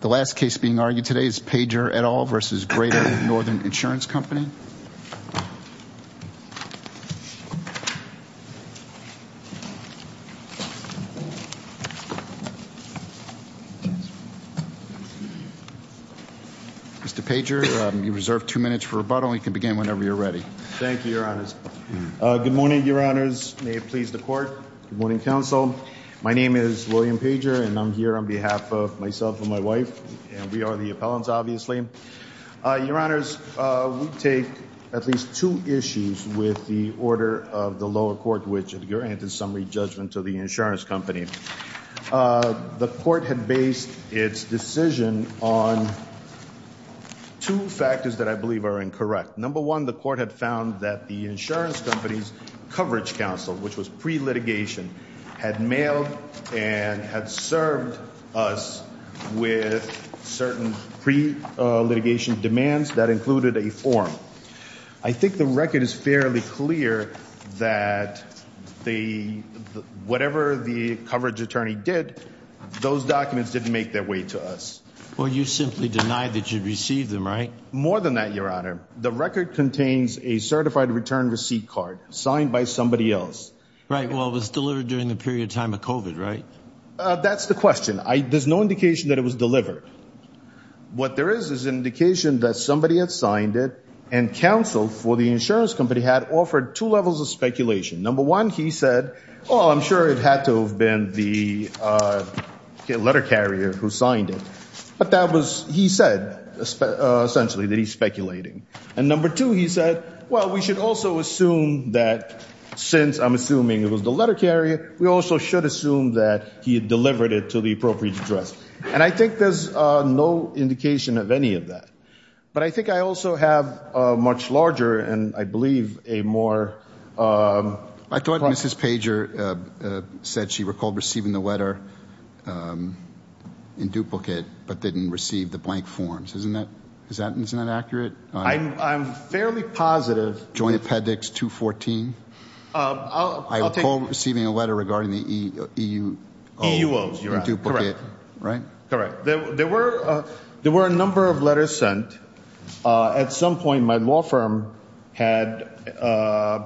The last case being argued today is Pager et al. v. Greater Northern Insurance Company. Mr. Pager, you're reserved two minutes for rebuttal. You can begin whenever you're ready. Thank you, Your Honors. Good morning, Your Honors. May it please the Court. Good morning, and we are the appellants, obviously. Your Honors, we take at least two issues with the order of the lower court, which granted summary judgment to the insurance company. The court had based its decision on two factors that I believe are incorrect. Number one, the court had found that the insurance company's coverage counsel, which was pre-litigation, had mailed and had served us with certain pre-litigation demands that included a form. I think the record is fairly clear that whatever the coverage attorney did, those documents didn't make their way to us. Well, you simply denied that you received them, right? More than that, Your Honor. The record contains a certified return receipt card signed by somebody else. Right. Well, it was delivered during the period of time of COVID, right? That's the question. There's no indication that it was delivered. What there is is an indication that somebody had signed it and counsel for the insurance company had offered two levels of speculation. Number one, he said, oh, I'm sure it had to have been the letter carrier who signed it. But that was, he said, essentially, that he's speculating. And number two, he said, well, we should also assume that since I'm assuming it was the letter carrier, we also should assume that he had delivered it to the appropriate address. And I think there's no indication of any of that. But I think I also have a much larger and I believe a more... I thought Mrs. Pager said she recalled receiving the letter in duplicate, but didn't receive the blank forms. Isn't that accurate? I'm fairly positive. Joint Appendix 214? I recall receiving a letter regarding the EUO in duplicate, right? Correct. There were a number of letters sent. At some point, my law firm had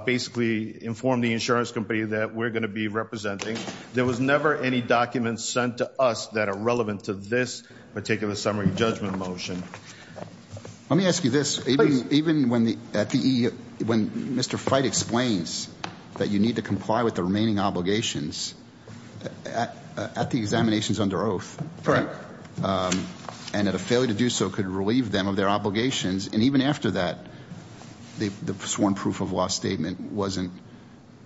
basically informed the insurance company that we're going to be representing. There was never any documents sent to us that are relevant to this particular summary judgment motion. Let me ask you this. Even when Mr. Fite explains that you need to comply with the remaining obligations at the examinations under oath, and that a failure to do so could relieve them of their obligations. And even after that, the sworn proof of law statement wasn't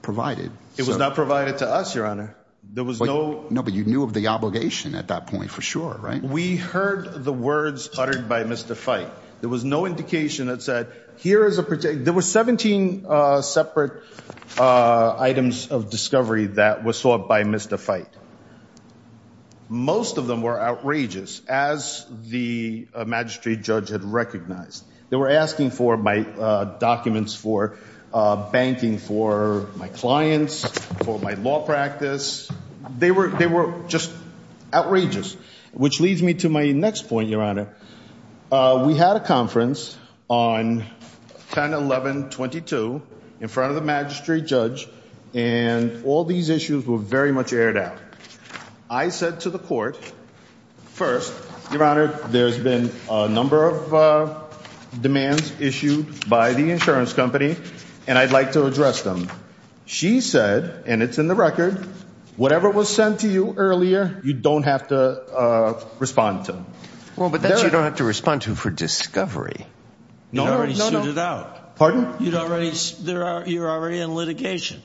provided. It was not provided to us, Your Honor. There was no... No, but you knew of the obligation at that point for sure, right? We heard the words uttered by Mr. Fite. There was no indication that said, here is a... There were 17 separate items of discovery that were sought by Mr. Fite. Most of them were outrageous, as the magistrate judge had recognized. They were asking for my documents, for banking for my clients, for my law practice. They were just outrageous. Which leads me to my next point, Your Honor. We had a conference on 10-11-22, in front of the magistrate judge, and all these issues were very much aired out. I said to the court, first, Your Honor, there's been a number of demands issued by the insurance company, and I'd like to address them. She said, and it's in the record, whatever was sent to you earlier, you don't have to respond to. Well, but that's you don't have to respond to for discovery. No, no, no. You'd already suited out. Pardon? You'd already... You're already in litigation.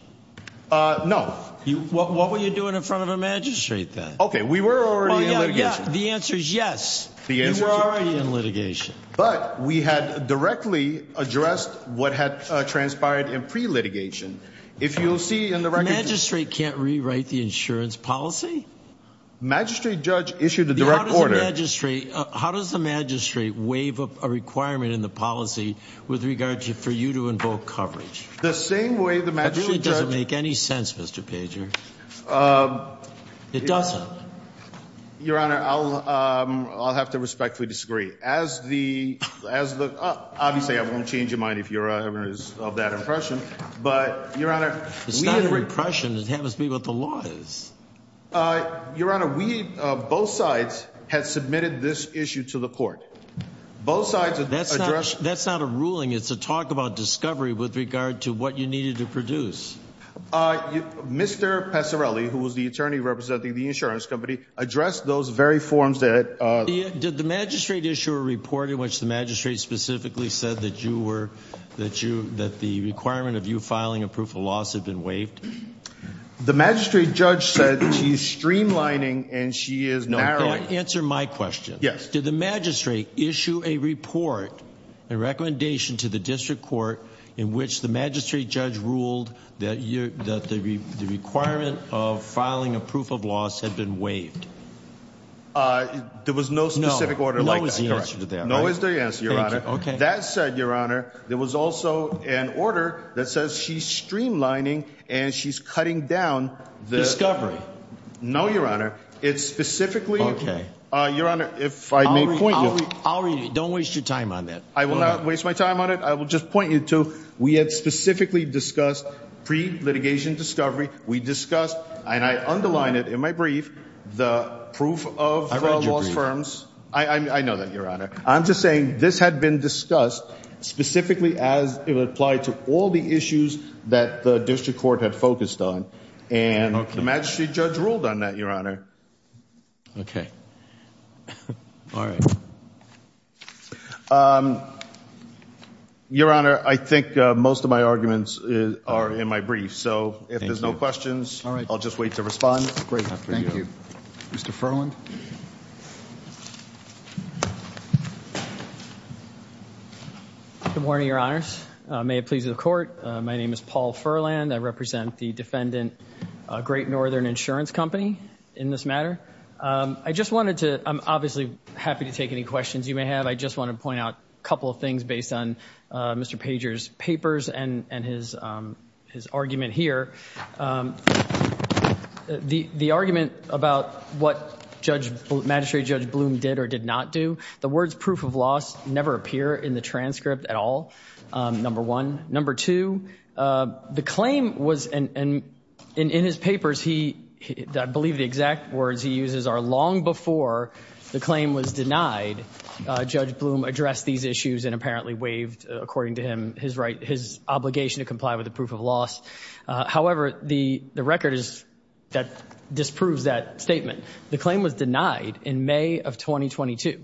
No. What were you doing in front of a magistrate then? Okay, we were already in litigation. The answer is yes. The answer is yes. You were already in litigation. But, we had directly addressed what had transpired in pre-litigation. If you'll see in the record... The magistrate can't rewrite the insurance policy? The magistrate judge issued a direct order. How does the magistrate waive a requirement in the policy with regard to for you to invoke coverage? The same way the magistrate judge... That doesn't make any sense, Mr. Pager. It doesn't. Your Honor, I'll have to respectfully disagree. As the... Obviously, I won't change your mind if you're of that impression. But, Your Honor... It's not an impression. It has to be what the law is. Your Honor, we, both sides, have submitted this issue to the court. Both sides have addressed... That's not a ruling. It's a talk about discovery with regard to what you needed to produce. Mr. Passarelli, who was the attorney representing the insurance company, addressed those very forms that... Did the magistrate issue a report in which the magistrate specifically said that the requirement of you filing a proof of loss had been waived? The magistrate judge said she's streamlining and she is narrowing. Answer my question. Yes. Did the magistrate issue a report, a recommendation to the district court, in which the magistrate judge ruled that the requirement of filing a proof of loss had been waived? There was no specific order like that. No is the answer to that. No is the answer, Your Honor. Thank you. That said, Your Honor, there was also an order that says she's streamlining and she's cutting down the... No, Your Honor. It's specifically... Okay. Your Honor, if I may point you... I'll read it. Don't waste your time on that. I will not waste my time on it. I will just point you to, we had specifically discussed pre-litigation discovery. We discussed, and I underline it in my brief, the proof of fraud law firms... I know that, Your Honor. I'm just saying this had been discussed specifically as it applied to all the issues that the district court had focused on. Okay. And the magistrate judge ruled on that, Your Honor. Okay. All right. Your Honor, I think most of my arguments are in my brief. So if there's no questions, I'll just wait to respond. Great. Thank you. Mr. Furland. Good morning, Your Honors. May it please the court, my name is Paul Furland. I represent the defendant Great Northern Insurance Company in this matter. I just wanted to, I'm obviously happy to take any questions you may have. I just want to point out a couple of things based on Mr. Pager's papers and his argument here. The argument about what magistrate judge Bloom did or did not do, the words proof of loss never appear in the transcript at all, number one. Number two, the claim was, and in his papers, I believe the exact words he uses are long before the claim was denied, Judge Bloom addressed these issues and apparently waived, according to him, his obligation to comply with the proof of loss. However, the record is that disproves that statement. The claim was denied in May of 2022.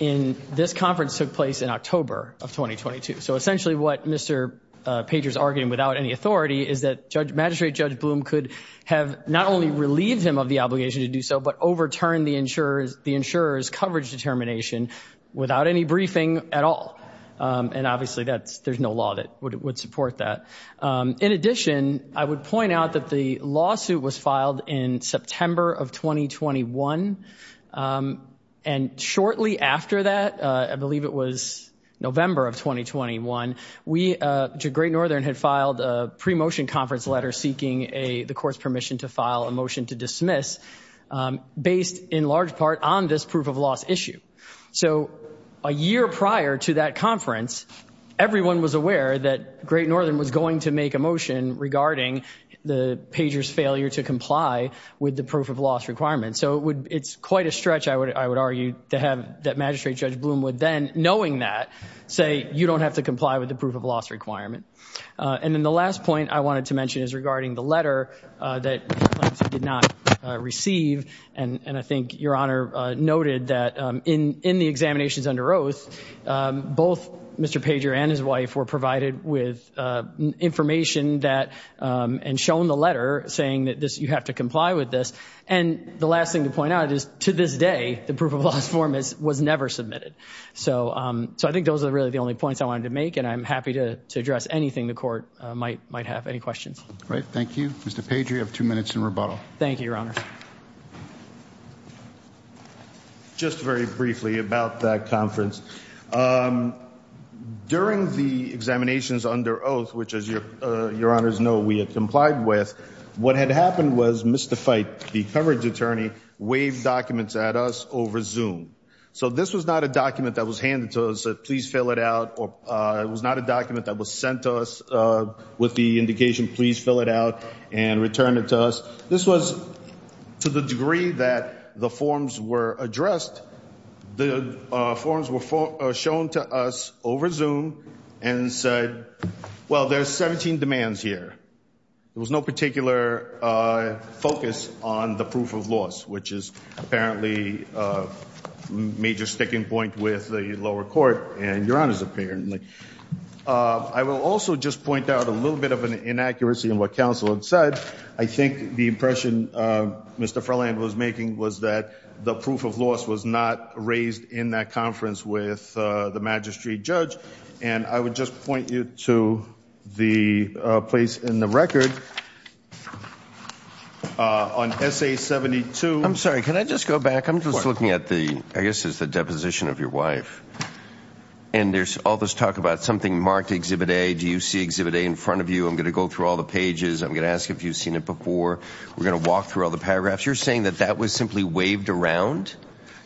And this conference took place in October of 2022. So essentially what Mr. Pager's arguing without any authority is that magistrate judge Bloom could have not only relieved him of the obligation to do so, but overturned the insurer's coverage determination without any briefing at all. And obviously, there's no law that would support that. In addition, I would point out that the lawsuit was filed in September of 2021. And shortly after that, I believe it was November of 2021, Great Northern had filed a pre-motion conference letter seeking the court's permission to file a motion to dismiss based in large part on this proof of loss issue. So a year prior to that conference, everyone was aware that Great Northern was going to make a motion regarding the Pager's failure to comply with the proof of loss requirement. So it's quite a stretch, I would argue, that magistrate judge Bloom would then, knowing that, say, you don't have to comply with the proof of loss requirement. And then the last point I wanted to mention is regarding the letter that he did not receive. And I think Your Honor noted that in the examinations under oath, both Mr. Pager and his wife were provided with information and shown the letter saying that you have to comply with this. And the last thing to point out is to this day, the proof of loss form was never submitted. So I think those are really the only points I wanted to make and I'm happy to address anything the court might have. Any questions? Great, thank you. Mr. Pager, you have two minutes in rebuttal. Thank you, Your Honor. Just very briefly about that conference. During the examinations under oath, which as Your Honors know, we had complied with, what had happened was Mr. Fite, the coverage attorney, waved documents at us over Zoom. So this was not a document that was handed to us, said, please fill it out. It was not a document that was sent to us with the indication, please fill it out and return it to us. This was, to the degree that the forms were addressed, the forms were shown to us over Zoom and said, well, there's 17 demands here. There was no particular focus on the proof of loss, which is apparently a major sticking point with the lower court and Your Honors apparently. I will also just point out a little bit of an inaccuracy in what counsel had said. I think the impression Mr. Freland was making was that the proof of loss was not raised in that conference with the magistrate judge. And I would just point you to the place in the record on SA 72. I'm sorry, can I just go back? I'm just looking at the, I guess it's the deposition of your wife. And there's all this talk about something marked Exhibit A. Do you see Exhibit A in front of you? I'm going to go through all the pages. I'm going to ask if you've seen it before. We're going to walk through all the paragraphs. You're saying that that was simply waved around?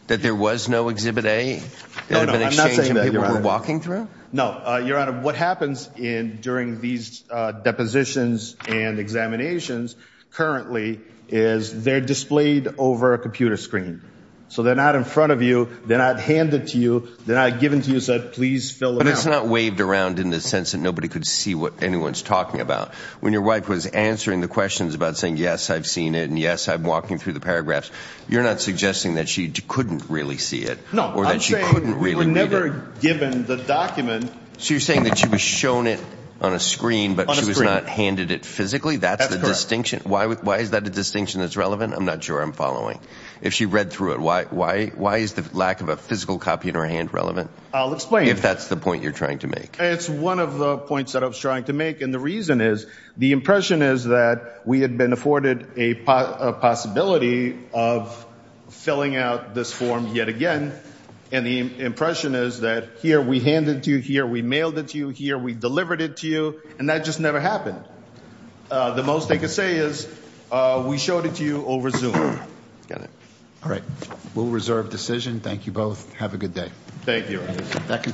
That there was no Exhibit A? No, no, I'm not saying that, Your Honor. People were walking through? No, Your Honor. What happens during these depositions and examinations currently is they're displayed over a computer screen. So they're not in front of you. They're not handed to you. They're not given to you. So please fill it out. But it's not waved around in the sense that nobody could see what anyone's talking about. When your wife was answering the questions about saying, yes, I've seen it, and yes, I'm walking through the paragraphs, you're not suggesting that she couldn't really see it? No, I'm saying we were never given the document. So you're saying that she was shown it on a screen, but she was not handed it physically? That's the distinction? Why is that a distinction that's relevant? I'm not sure I'm following. If she read through it, why is the lack of a physical copy in her hand relevant? I'll explain. If that's the point you're trying to make. It's one of the points that I was trying to make. And the reason is, the impression is that we had been afforded a possibility of filling out this form yet again. And the impression is that here we hand it to you, here we mailed it to you, here we delivered it to you, and that just never happened. The most they could say is, we showed it to you over Zoom. Got it. All right. We'll reserve decision. Thank you both. Have a good day. Thank you.